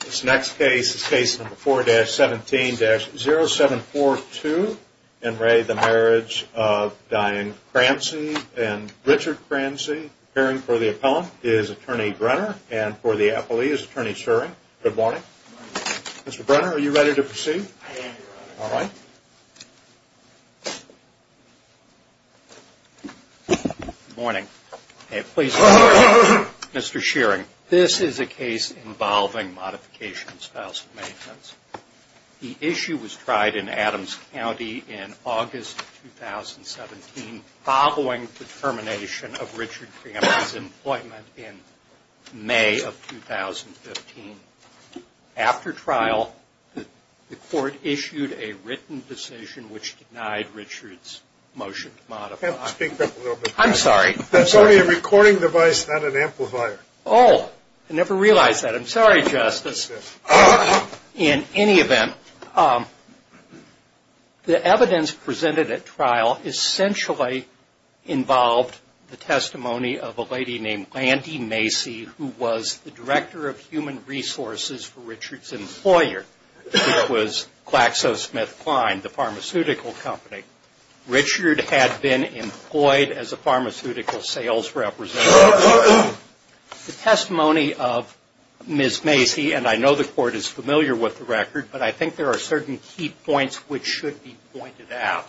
This next case is case number 4-17-0742 in re the Marriage of Diane Cramsey and Richard Cramsey. Appearing for the appellant is attorney Brenner and for the appellee is attorney Schering. Good morning. Good morning. Mr. Brenner, are you ready to proceed? I am ready. All right. Good morning. Good morning. This is a case involving modification of spousal maintenance. The issue was tried in Adams County in August 2017 following the termination of Richard Cramsey's employment in May of 2015. After trial, the court issued a written decision which denied Richard's motion to modify. Speak up a little bit. I'm sorry. That's only a recording device, not an amplifier. Oh, I never realized that. I'm sorry, Justice. In any event, the evidence presented at trial essentially involved the testimony of a lady named Landy Macy, who was the director of human resources for Richard's employer, which was GlaxoSmithKline, the pharmaceutical company. Richard had been employed as a pharmaceutical sales representative. The testimony of Ms. Macy, and I know the court is familiar with the record, but I think there are certain key points which should be pointed out.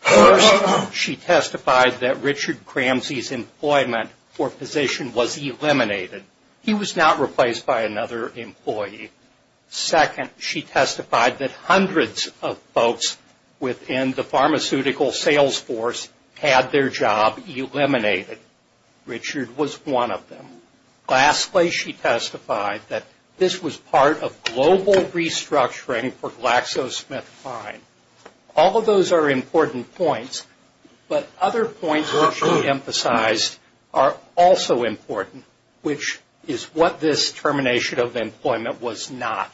First, she testified that Richard Cramsey's employment or position was eliminated. He was not replaced by another employee. Second, she testified that hundreds of folks within the pharmaceutical sales force had their job eliminated. Richard was one of them. Lastly, she testified that this was part of global restructuring for GlaxoSmithKline. All of those are important points, but other points which should be emphasized are also important, which is what this termination of employment was not.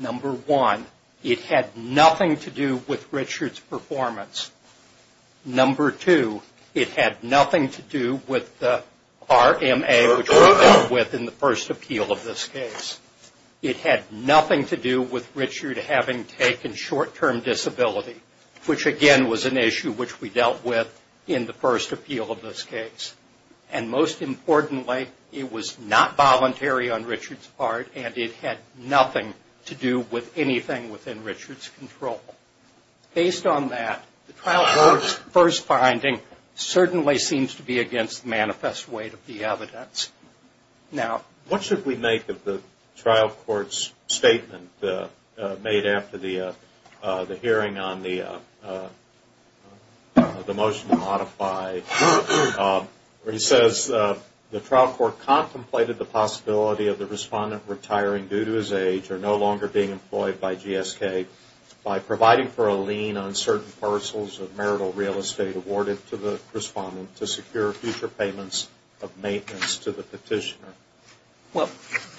Number one, it had nothing to do with Richard's performance. Number two, it had nothing to do with the RMA, which we dealt with in the first appeal of this case. It had nothing to do with Richard having taken short-term disability, which again was an issue which we dealt with in the first appeal of this case. And most importantly, it was not voluntary on Richard's part, and it had nothing to do with anything within Richard's control. Based on that, the trial court's first finding certainly seems to be against the manifest weight of the evidence. Now, what should we make of the trial court's statement made after the hearing on the motion to modify where he says, the trial court contemplated the possibility of the respondent retiring due to his age or no longer being employed by GSK by providing for a lien on certain parcels of marital real estate awarded to the respondent to secure future payments of maintenance to the petitioner? Well,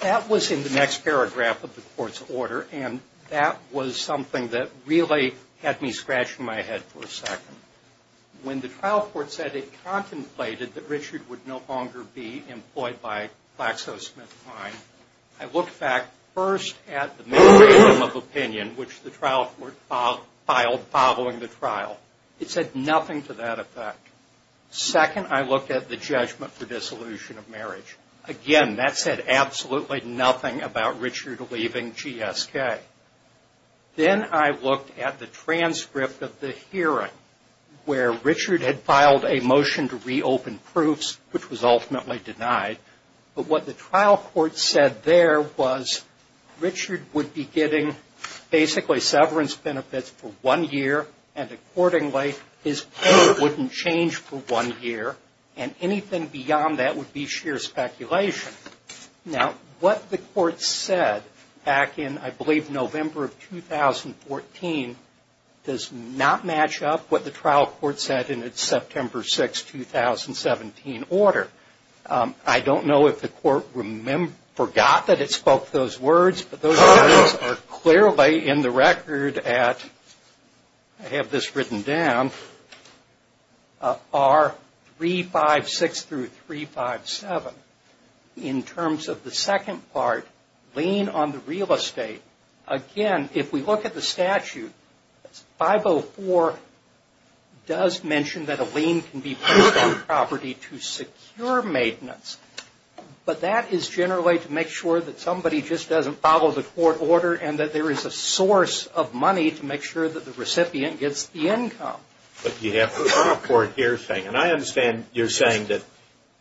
that was in the next paragraph of the court's order, and that was something that really had me scratching my head for a second. When the trial court said it contemplated that Richard would no longer be employed by GlaxoSmithKline, I looked back first at the minimum of opinion which the trial court filed following the trial. It said nothing to that effect. Second, I looked at the judgment for dissolution of marriage. Again, that said absolutely nothing about Richard leaving GSK. Then I looked at the transcript of the hearing where Richard had filed a motion to reopen proofs, which was ultimately denied. But what the trial court said there was Richard would be getting basically severance benefits for one year, and accordingly his pay wouldn't change for one year, and anything beyond that would be sheer speculation. Now, what the court said back in, I believe, November of 2014, does not match up what the trial court said in its September 6, 2017 order. I don't know if the court forgot that it spoke those words, but those words are clearly in the record at, I have this written down, R356-357. In terms of the second part, lien on the real estate, again, if we look at the statute, 504 does mention that a lien can be placed on property to secure maintenance, but that is generally to make sure that somebody just doesn't follow the court order and that there is a source of money to make sure that the recipient gets the income. But you have the trial court here saying, and I understand you're saying that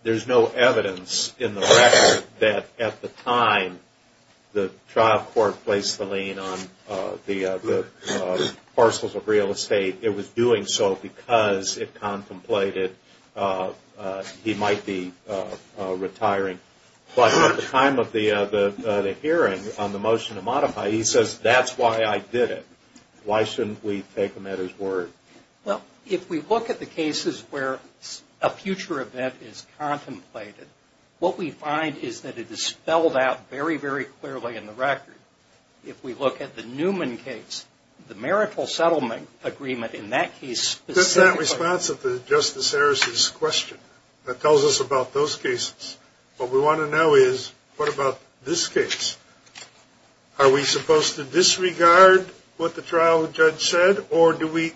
there's no evidence in the record that at the time the trial court placed the lien on the parcels of real estate, it was doing so because it contemplated he might be retiring. But at the time of the hearing on the motion to modify, he says, that's why I did it. Why shouldn't we take him at his word? Well, if we look at the cases where a future event is contemplated, what we find is that it is spelled out very, very clearly in the record. If we look at the Newman case, the marital settlement agreement in that case is That's that response to Justice Harris' question that tells us about those cases. What we want to know is, what about this case? Are we supposed to disregard what the trial judge said, or do we,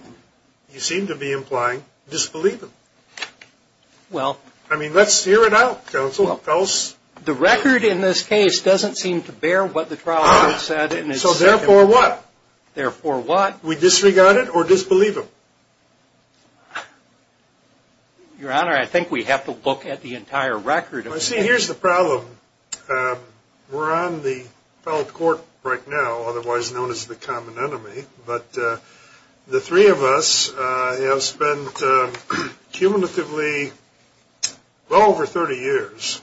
you seem to be implying, disbelieve him? I mean, let's hear it out, counsel. The record in this case doesn't seem to bear what the trial judge said. So therefore what? Therefore what? We disregard it or disbelieve him? Your Honor, I think we have to look at the entire record. See, here's the problem. We're on the felt court right now, otherwise known as the common enemy. But the three of us have spent cumulatively well over 30 years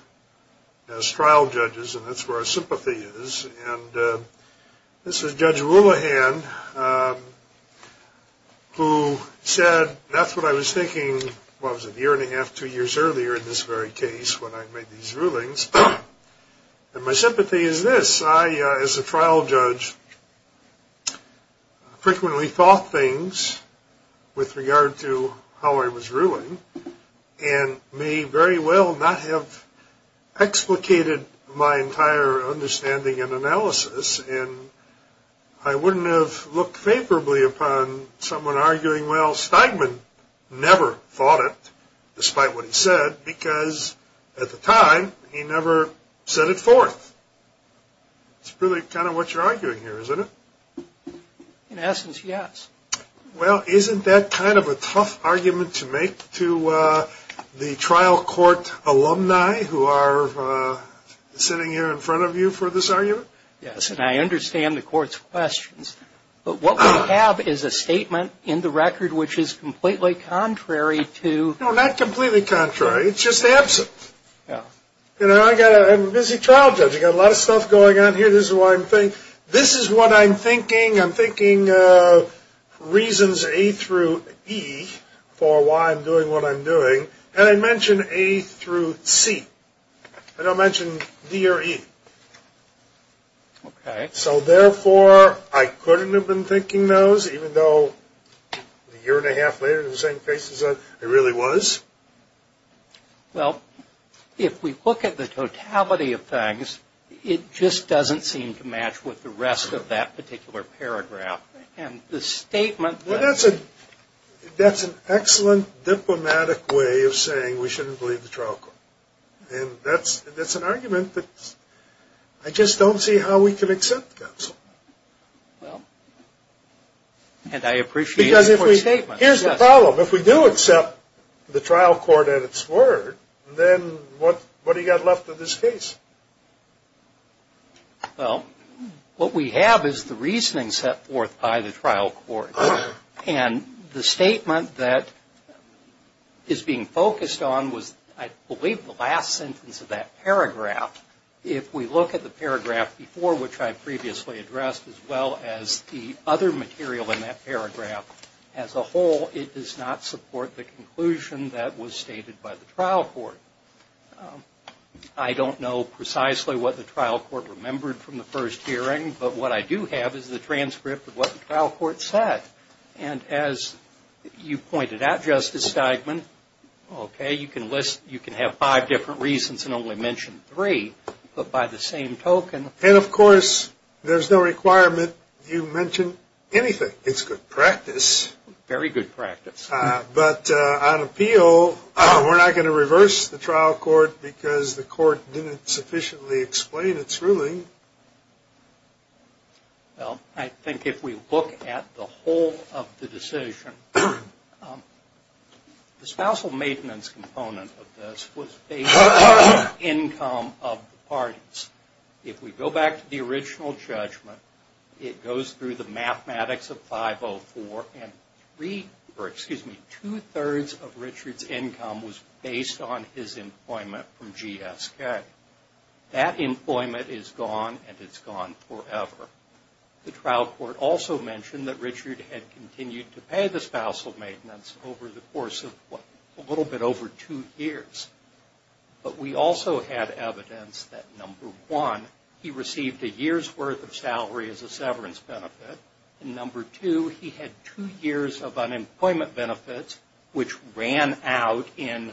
as trial judges, and that's where our sympathy is. And this is Judge Woolihan, who said, that's what I was thinking, well, it was a year and a half, two years earlier in this very case when I made these rulings. And my sympathy is this. I, as a trial judge, frequently thought things with regard to how I was ruling and may very well not have explicated my entire understanding and analysis. And I wouldn't have looked favorably upon someone arguing, well, despite what he said, because at the time he never set it forth. It's really kind of what you're arguing here, isn't it? In essence, yes. Well, isn't that kind of a tough argument to make to the trial court alumni who are sitting here in front of you for this argument? Yes, and I understand the court's questions. But what we have is a statement in the record which is completely contrary to... No, not completely contrary. It's just absent. You know, I'm a busy trial judge. I've got a lot of stuff going on here. This is what I'm thinking. I'm thinking reasons A through E for why I'm doing what I'm doing. And I mention A through C. I don't mention D or E. Okay. So, therefore, I couldn't have been thinking those, even though a year and a half later in the same place as I really was? Well, if we look at the totality of things, it just doesn't seem to match with the rest of that particular paragraph. And the statement that... Well, that's an excellent diplomatic way of saying we shouldn't believe the trial court. And that's an argument that I just don't see how we can accept, counsel. Well, and I appreciate the court's statement. Because if we... Here's the problem. If we do accept the trial court at its word, then what have you got left of this case? Well, what we have is the reasoning set forth by the trial court. And the statement that is being focused on was, I believe, the last sentence of that paragraph. If we look at the paragraph before, which I previously addressed, as well as the other material in that paragraph, as a whole, it does not support the conclusion that was stated by the trial court. I don't know precisely what the trial court remembered from the first hearing. But what I do have is the transcript of what the trial court said. And as you pointed out, Justice Steigman, okay, you can list... you can have five different reasons and only mention three, but by the same token... And, of course, there's no requirement you mention anything. It's good practice. Very good practice. But on appeal, we're not going to reverse the trial court because the court didn't sufficiently explain its ruling. Well, I think if we look at the whole of the decision, the spousal maintenance component of this was based on the income of the parties. If we go back to the original judgment, it goes through the mathematics of 504. And two-thirds of Richard's income was based on his employment from GSK. That employment is gone, and it's gone forever. The trial court also mentioned that Richard had continued to pay the spousal maintenance over the course of a little bit over two years. But we also had evidence that, number one, he received a year's worth of salary as a severance benefit. And, number two, he had two years of unemployment benefits, which ran out in,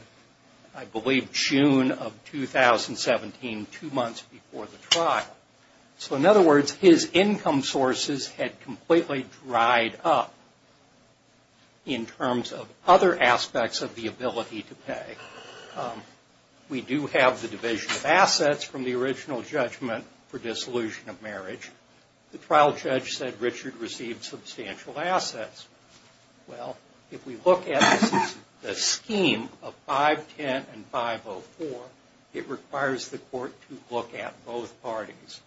I believe, June of 2017, two months before the trial. So, in other words, his income sources had completely dried up in terms of other aspects of the ability to pay. We do have the division of assets from the original judgment for dissolution of marriage. The trial judge said Richard received substantial assets. Well, if we look at the scheme of 510 and 504, it requires the court to look at both parties.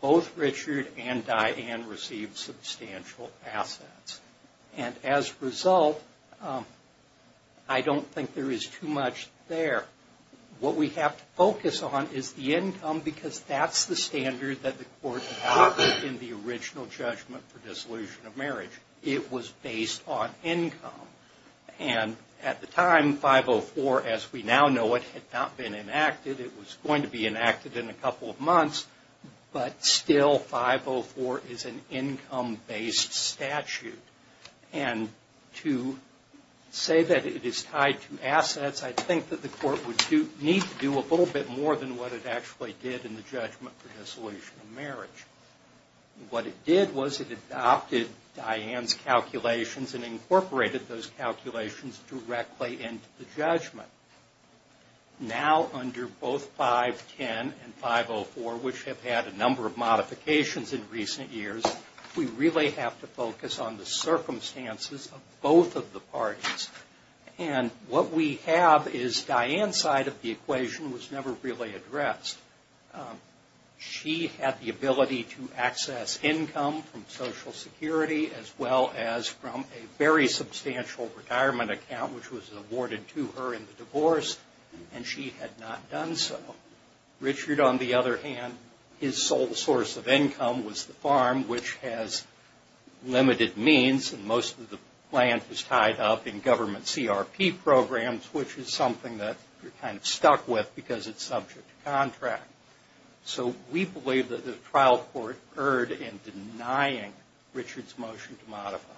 Both Richard and Diane received substantial assets. And as a result, I don't think there is too much there. What we have to focus on is the income, because that's the standard that the court adopted in the original judgment for dissolution of marriage. It was based on income. And at the time, 504, as we now know it, had not been enacted. It was going to be enacted in a couple of months, but still 504 is an income-based statute. And to say that it is tied to assets, I think that the court would need to do a little bit more than what it actually did in the judgment for dissolution of marriage. What it did was it adopted Diane's calculations and incorporated those calculations directly into the judgment. Now, under both 510 and 504, which have had a number of modifications in recent years, we really have to focus on the circumstances of both of the parties. And what we have is Diane's side of the equation was never really addressed. She had the ability to access income from Social Security as well as from a very substantial retirement account, which was awarded to her in the divorce, and she had not done so. Richard, on the other hand, his sole source of income was the farm, which has limited means, and most of the land was tied up in government CRP programs, which is something that we're kind of stuck with because it's subject to contract. So we believe that the trial court erred in denying Richard's motion to modify.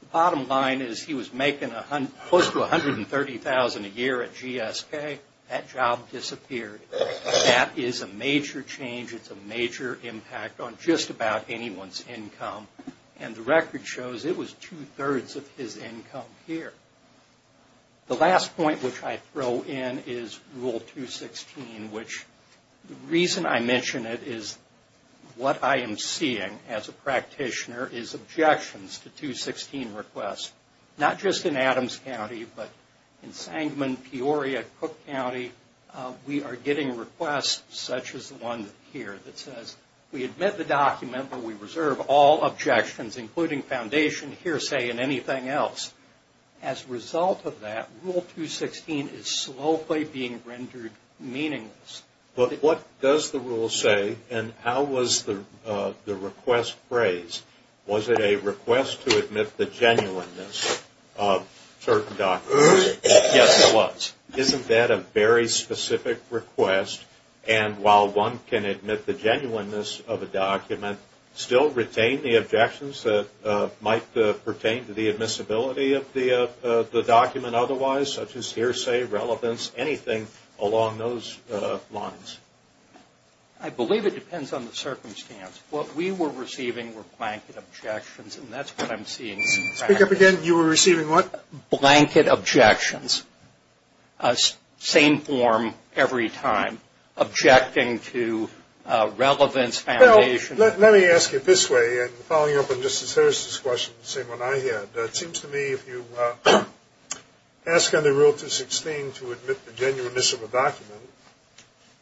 The bottom line is he was making close to $130,000 a year at GSK. That job disappeared. That is a major change. It's a major impact on just about anyone's income. And the record shows it was two-thirds of his income here. The last point which I throw in is Rule 216, which the reason I mention it is what I am seeing as a practitioner is objections to 216 requests. Not just in Adams County, but in Sangamon, Peoria, Cook County, we are getting requests such as the one here that says, we admit the document, but we reserve all objections, including foundation, hearsay, and anything else. As a result of that, Rule 216 is slowly being rendered meaningless. But what does the rule say? And how was the request phrased? Was it a request to admit the genuineness of certain documents? Yes, it was. Isn't that a very specific request? And while one can admit the genuineness of a document, still retain the objections that might pertain to the admissibility of the document otherwise, such as hearsay, relevance, anything along those lines? I believe it depends on the circumstance. What we were receiving were blanket objections, and that's what I'm seeing. Speak up again. You were receiving what? Blanket objections. Same form every time, objecting to relevance, foundation. Well, let me ask you this way, and following up on Justice Harris' question, the same one I had. It seems to me if you ask under Rule 216 to admit the genuineness of a document,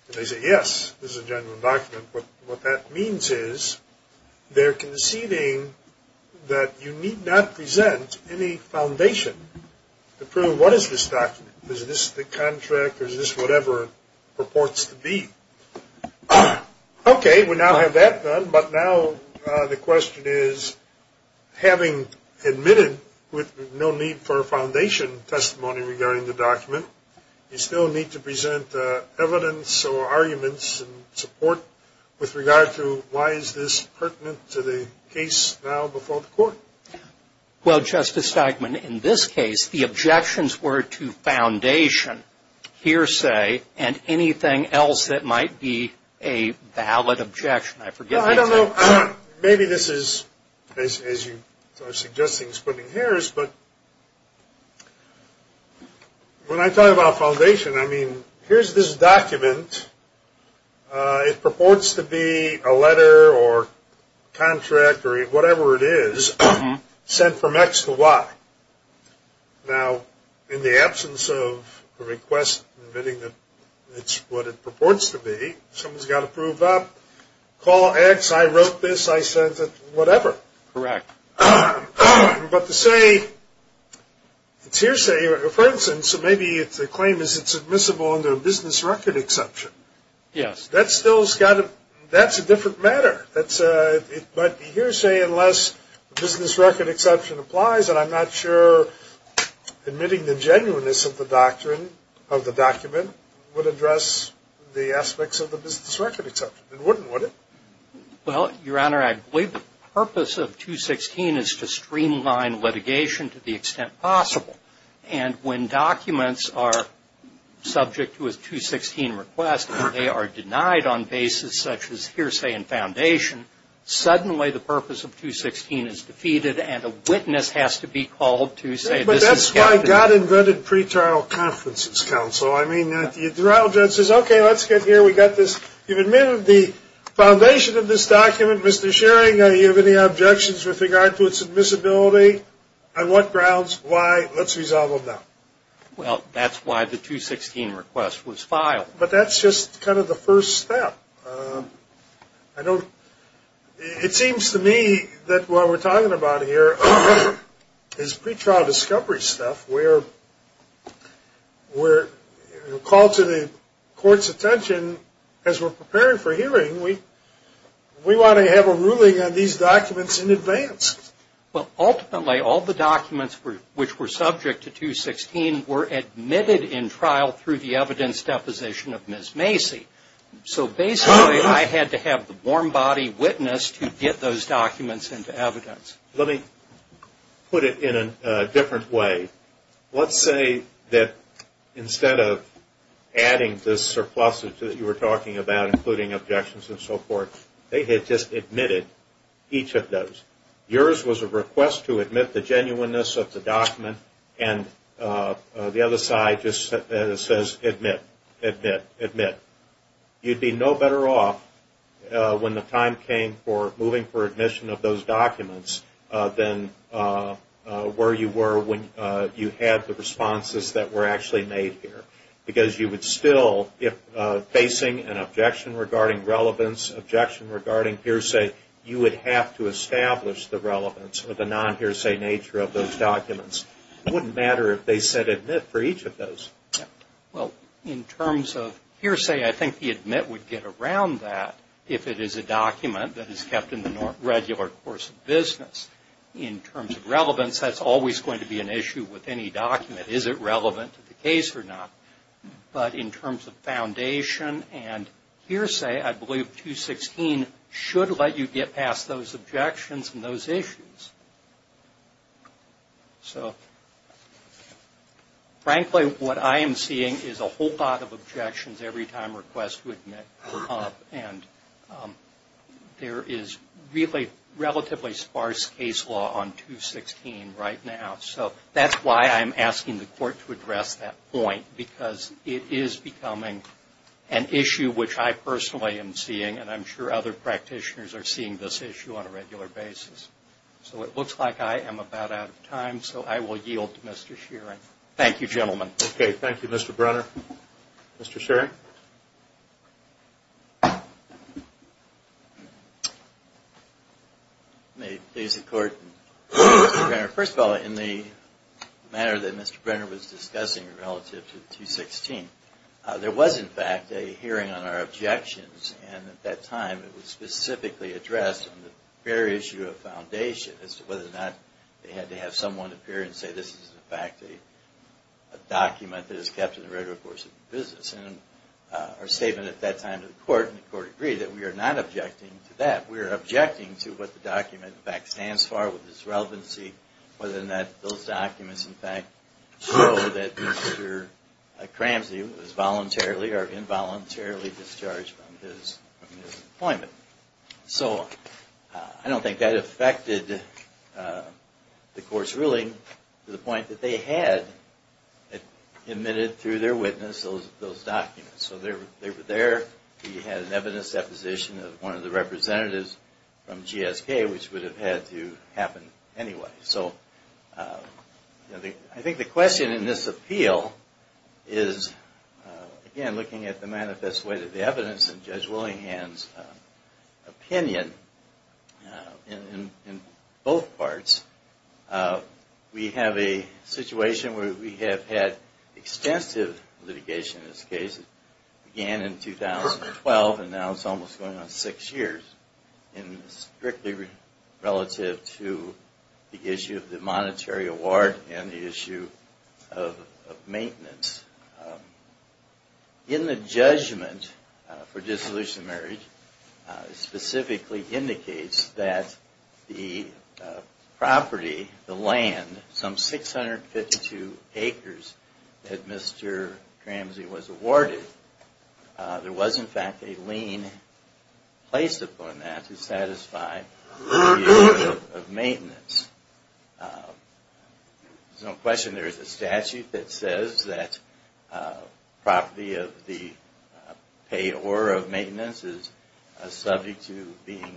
and they say, yes, this is a genuine document, what that means is they're conceding that you need not present any foundation to prove what is this document. Is this the contract or is this whatever it purports to be? Okay, we now have that done, but now the question is, having admitted with no need for a foundation testimony regarding the document, you still need to present evidence or arguments and support with regard to why is this pertinent to the case now before the court? Well, Justice Steikman, in this case, the objections were to foundation, hearsay, and anything else that might be a valid objection. I forget. Well, I don't know. Maybe this is, as you are suggesting, splitting hairs, but when I talk about foundation, I mean here's this document. It purports to be a letter or contract or whatever it is sent from X to Y. Now, in the absence of a request admitting that it's what it purports to be, someone's got to prove up, call X, I wrote this, I sent it, whatever. Correct. But to say it's hearsay, for instance, maybe the claim is it's admissible under a business record exception. Yes. That's a different matter. It might be hearsay unless the business record exception applies, and I'm not sure admitting the genuineness of the document would address the aspects of the business record exception. It wouldn't, would it? Well, Your Honor, I believe the purpose of 216 is to streamline litigation to the extent possible. And when documents are subject to a 216 request, and they are denied on basis such as hearsay and foundation, suddenly the purpose of 216 is defeated and a witness has to be called to say this is. But that's why God invented pretrial conferences, counsel. I mean, the trial judge says, okay, let's get here, we got this. You've admitted the foundation of this document. Mr. Schering, do you have any objections with regard to its admissibility? On what grounds? Why? Let's resolve them now. Well, that's why the 216 request was filed. But that's just kind of the first step. It seems to me that what we're talking about here is pretrial discovery stuff where you're called to the court's attention as we're preparing for hearing. We want to have a ruling on these documents in advance. Well, ultimately all the documents which were subject to 216 were admitted in trial through the evidence deposition of Ms. Macy. So basically I had to have the warm body witness to get those documents into evidence. Let me put it in a different way. Let's say that instead of adding this surplusage that you were talking about, including objections and so forth, they had just admitted each of those. Yours was a request to admit the genuineness of the document, and the other side just says admit, admit, admit. You'd be no better off when the time came for moving for admission of those but you had the responses that were actually made here. Because you would still, if facing an objection regarding relevance, objection regarding hearsay, you would have to establish the relevance or the non-hearsay nature of those documents. It wouldn't matter if they said admit for each of those. Well, in terms of hearsay, I think the admit would get around that if it is a document that is kept in the regular course of business. In terms of relevance, that's always going to be an issue with any document. Is it relevant to the case or not? But in terms of foundation and hearsay, I believe 216 should let you get past those objections and those issues. So frankly, what I am seeing is a whole lot of objections every time requests to admit were made. And there is really relatively sparse case law on 216 right now. So that's why I'm asking the court to address that point, because it is becoming an issue which I personally am seeing and I'm sure other practitioners are seeing this issue on a regular basis. So it looks like I am about out of time, so I will yield to Mr. Shearing. Thank you, gentlemen. Okay, thank you, Mr. Brenner. Mr. Shearing? May it please the Court, Mr. Brenner. First of all, in the manner that Mr. Brenner was discussing relative to 216, there was, in fact, a hearing on our objections, and at that time it was specifically addressed on the very issue of foundation as to whether or not they had to have someone appear and say this is, in fact, a document that is kept in the record of course of business. And our statement at that time to the Court, and the Court agreed that we are not objecting to that. We are objecting to what the document, in fact, stands for with its relevancy, whether or not those documents, in fact, show that Mr. Cramsey was voluntarily or involuntarily discharged from his employment. So I don't think that affected the Court's ruling to the point that they had admitted through their witness those documents. So they were there. We had an evidence deposition of one of the representatives from GSK, which would have had to happen anyway. So I think the question in this appeal is, again, looking at the manifest way that the evidence and Judge Willinghan's opinion in both parts, we have a situation where we have had extensive litigation in this case. It began in 2012, and now it's almost going on six years, and strictly relative to the issue of the monetary award and the issue of maintenance. And then the judgment for dissolution of marriage specifically indicates that the property, the land, some 652 acres that Mr. Cramsey was awarded, there was, in fact, a lien placed upon that to satisfy the appeal of maintenance. There's no question there is a statute that says that property of the payor of maintenance is subject to being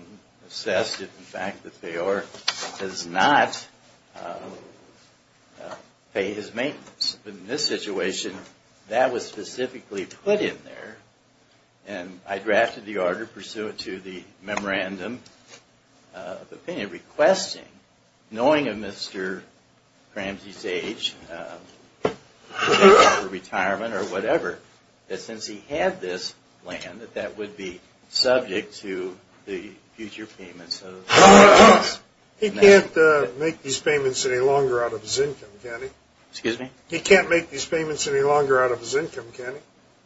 assessed. In fact, the payor does not pay his maintenance. But in this situation, that was specifically put in there, and I drafted the order pursuant to the memorandum of opinion requesting, knowing of Mr. Cramsey's age, retirement or whatever, that since he had this land, that that would be subject to the future payments of maintenance. He can't make these payments any longer out of his income, can he?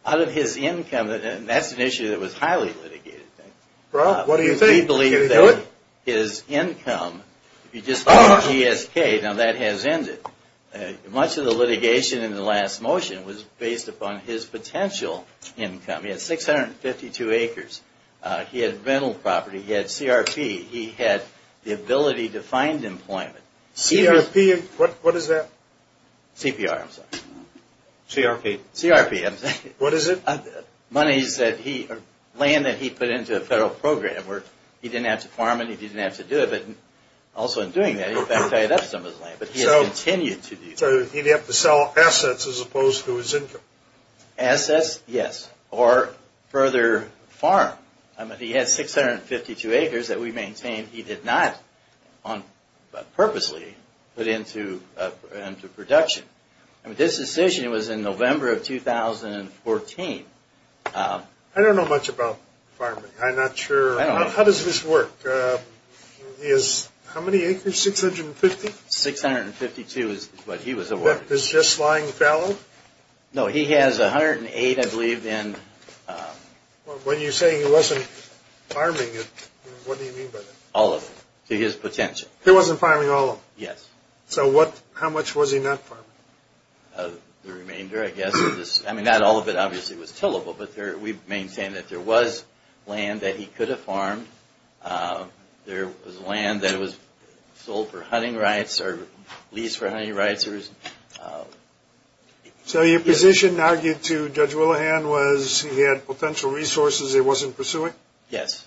Out of his income, and that's an issue that was highly litigated. We believe that his income, if you just look at GSK, now that has ended. Much of the litigation in the last motion was based upon his potential income. He had 652 acres. He had rental property. He had CRP. He had the ability to find employment. CRP, what is that? CRP, I'm sorry. What is it? Land that he put into a federal program where he didn't have to farm it, he didn't have to do it. Also in doing that, he in fact tied up some of his land, but he has continued to do that. So he'd have to sell assets as opposed to his income? Assets, yes, or further farm. He had 652 acres that we maintained. He did not purposely put into production. This decision was in November of 2014. I don't know much about farming. I'm not sure. How does this work? How many acres, 650? No, he has 108, I believe. When you say he wasn't farming it, what do you mean by that? All of it, to his potential. He wasn't farming all of it? Yes. So how much was he not farming? The remainder, I guess. I mean, not all of it obviously was tillable, but we maintained that there was land that he could have farmed. There was land that was sold for hunting rights or leased for hunting rights. So your position argued to Judge Willihan was he had potential resources he wasn't pursuing? Yes.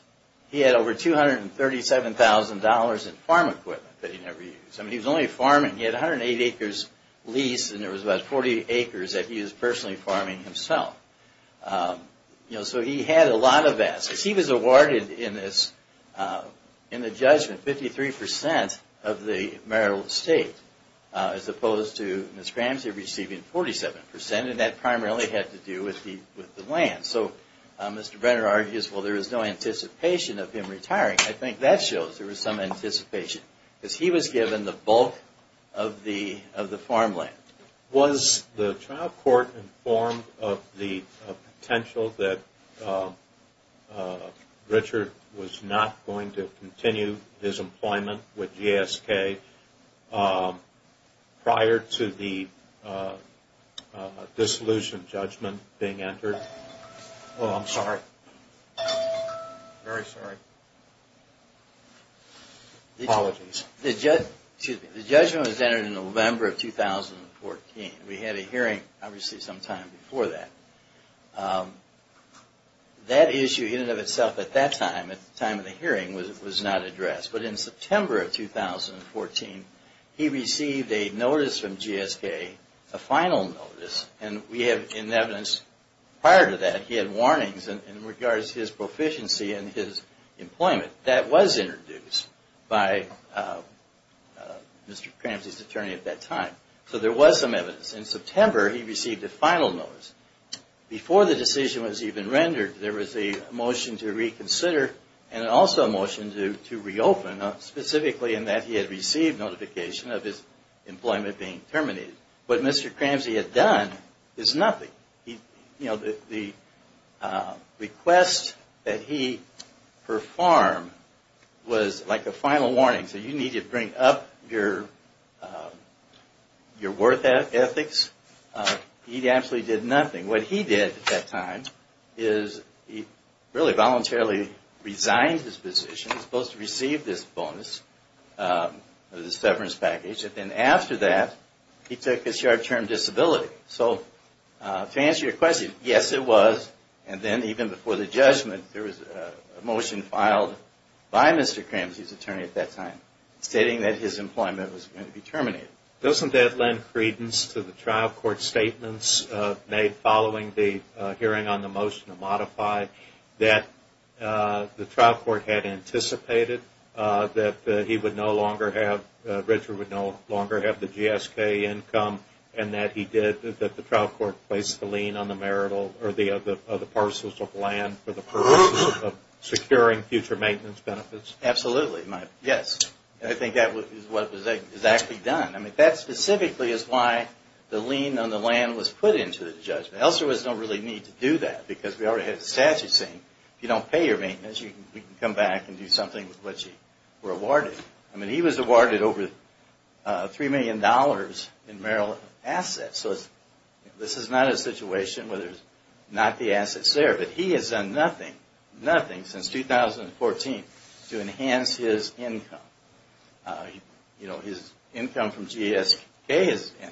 He had over $237,000 in farm equipment that he never used. He was only farming. He had 108 acres leased and there was about 40 acres that he was personally farming himself. So he had a lot of assets. He was awarded in the judgment 53% of the marital estate, as opposed to Ms. Ramsey receiving 47%. And that primarily had to do with the land. So Mr. Brenner argues there was no anticipation of him retiring. I think that shows there was some anticipation. Because he was given the bulk of the farmland. Was the trial court informed of the potential that Richard was not going to continue his employment with GSK prior to the dissolution judgment being entered? Oh, I'm sorry. Very sorry. Apologies. The judgment was entered in November of 2014. We had a hearing obviously sometime before that. That issue in and of itself at that time, at the time of the hearing, was not addressed. But in September of 2014, he received a notice from GSK, a final notice. And we have in evidence prior to that, he had warnings in regards to his proficiency and his employment. That was introduced by Mr. Cramsey's attorney at that time. So there was some evidence. In September, he received a final notice. Before the decision was even rendered, there was a motion to reconsider and also a motion to reopen, specifically in that he had received notification of his employment being terminated. What Mr. Cramsey had done is nothing. The request that he performed was like a final warning. So you need to bring up your worth ethics. He absolutely did nothing. What he did at that time is he really voluntarily resigned his position. He was supposed to receive this bonus, this severance package. And then after that, he took his short-term disability. So to answer your question, yes, it was. And then even before the judgment, there was a motion filed by Mr. Cramsey's attorney at that time stating that his employment was going to be terminated. Doesn't that lend credence to the trial court statements made following the hearing on the motion to modify? That the trial court had anticipated that Richard would no longer have the GSK income and that the trial court placed the lien on the marital or the parcels of land for the purposes of securing future maintenance benefits? Absolutely. Yes. I think that is what was exactly done. I mean, that specifically is why the lien on the land was put into the judgment. Else there was no really need to do that because we already had the statute saying if you don't pay your maintenance, you can come back and do something with what you were awarded. I mean, he was awarded over $3 million in marital assets. So this is not a situation where there's not the assets there. But he has done nothing, nothing since 2014 to enhance his income. You know, his income from GSK has ended.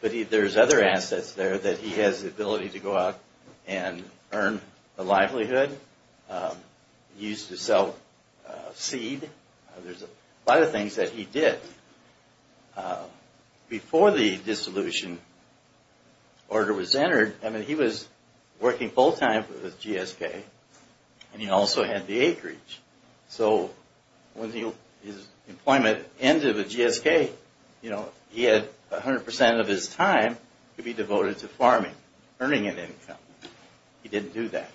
But there's other assets there that he has the ability to go out and earn the livelihood, use to sell seed. There's a lot of things that he did. Before the dissolution order was entered, I mean, he was working full-time with GSK and he also had the acreage. So when his employment ended with GSK, you know, he had 100 percent of his time to be devoted to farming, earning an income. He didn't do that.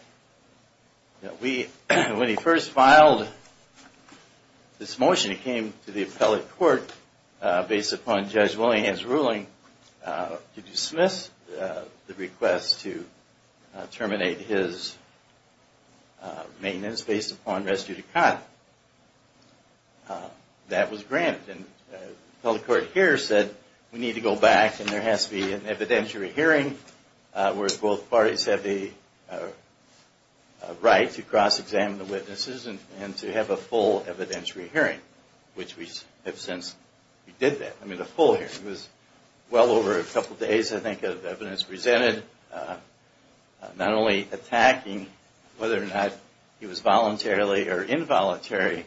When he first filed this motion, it came to the appellate court based upon Judge Willingham's ruling to dismiss the request to terminate his maintenance based upon residue to cot. That was granted. And the appellate court here said, we need to go back and there has to be an evidentiary hearing where both parties have the right to cross-examine the witnesses and to have a full evidentiary hearing, which we have since we did that. I mean, a full hearing. It was well over a couple of days, I think, of evidence presented, not only attacking whether or not he was voluntarily or involuntary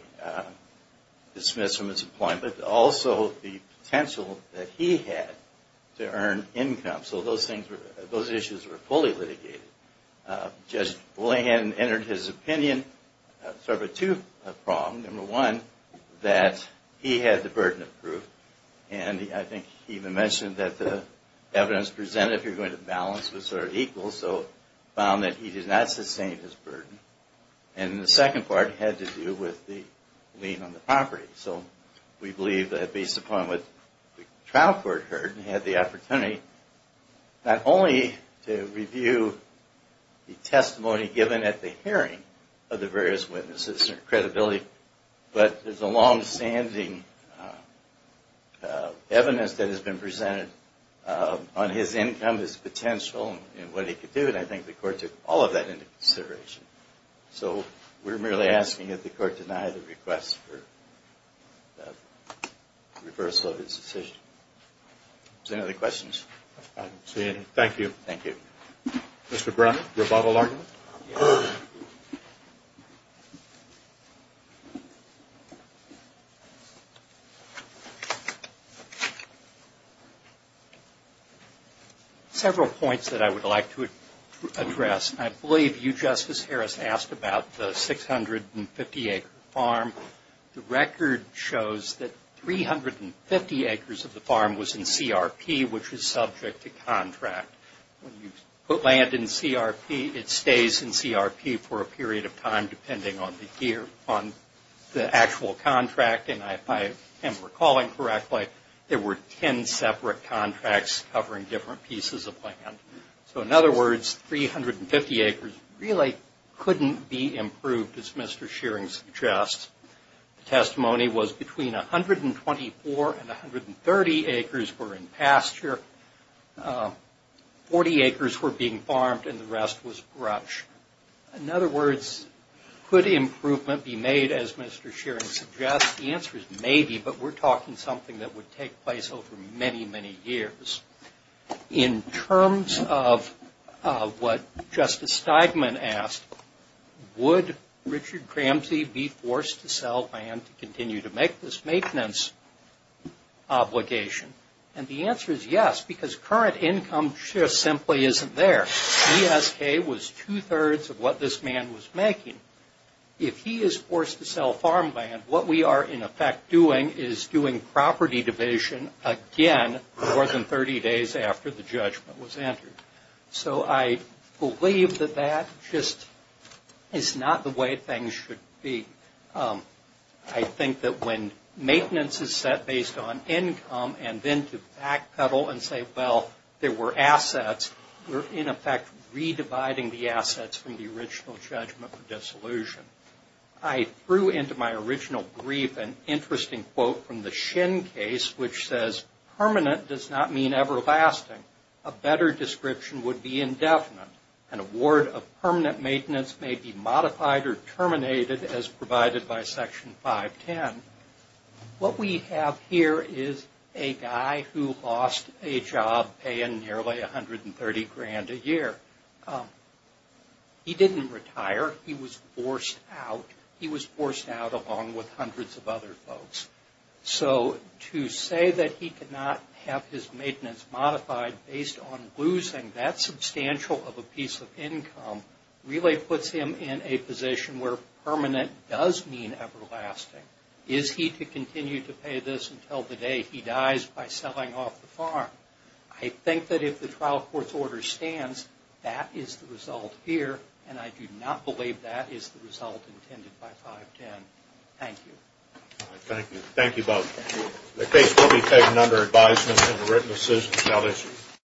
dismissed from his employment, but dismissing the request. And also the potential that he had to earn income. So those issues were fully litigated. Judge Willingham entered his opinion, sort of a two-pronged, number one, that he had the burden of proof. And I think he even mentioned that the evidence presented, if you're going to balance, was sort of equal. He also found that he did not sustain his burden. And the second part had to do with the lien on the property. So we believe that based upon what the trial court heard, he had the opportunity not only to review the testimony given at the hearing of the various witnesses and their credibility, but there's a long-standing evidence that has been presented on his income, his potential, and what he could do. And I think the court took all of that into consideration. So we're merely asking that the court deny the request for the reversal of his decision. Any other questions? Thank you. Thank you. Several points that I would like to address. I believe you, Justice Harris, asked about the 650-acre farm. The record shows that 350 acres of the farm was in CRP, which is subject to contract. When you put land in CRP, it stays in CRP for a period of time, depending on the actual contract. And if I am recalling correctly, there were 10 separate contracts covering different pieces of land. So in other words, 350 acres really couldn't be improved, as Mr. Shearing suggests. The testimony was between 124 and 130 acres were in pasture, 40 acres were being farmed, and the rest was brush. In other words, could improvement be made, as Mr. Shearing suggests? The answer is maybe, but we're talking something that would take place over many, many years. In terms of what Justice Steigman asked, would Richard Cramsey be forced to sell land to continue to make this maintenance obligation? And the answer is yes, because current income shift simply isn't there. ESK was two-thirds of what this man was making. If he is forced to sell farmland, what we are in effect doing is doing property division again more than 30 days after the judgment was entered. So I believe that that just is not the way things should be. I think that when maintenance is set based on income, and then to backpedal and say, well, there were assets, we're in effect re-dividing the assets from the original judgment for disability. I threw into my original brief an interesting quote from the Shin case, which says, Permanent does not mean everlasting. A better description would be indefinite. An award of permanent maintenance may be modified or terminated as provided by Section 510. What we have here is a guy who lost a job paying nearly 130 grand a year. He didn't retire. He was forced out. He was forced out along with hundreds of other folks. So to say that he could not have his maintenance modified based on losing that substantial of a piece of income really puts him in a position where permanent does mean everlasting. Is he to continue to pay this until the day he dies by selling off the farm? I think that if the trial court's order stands, that is the result here, and I do not believe that is the result intended by 510. Thank you.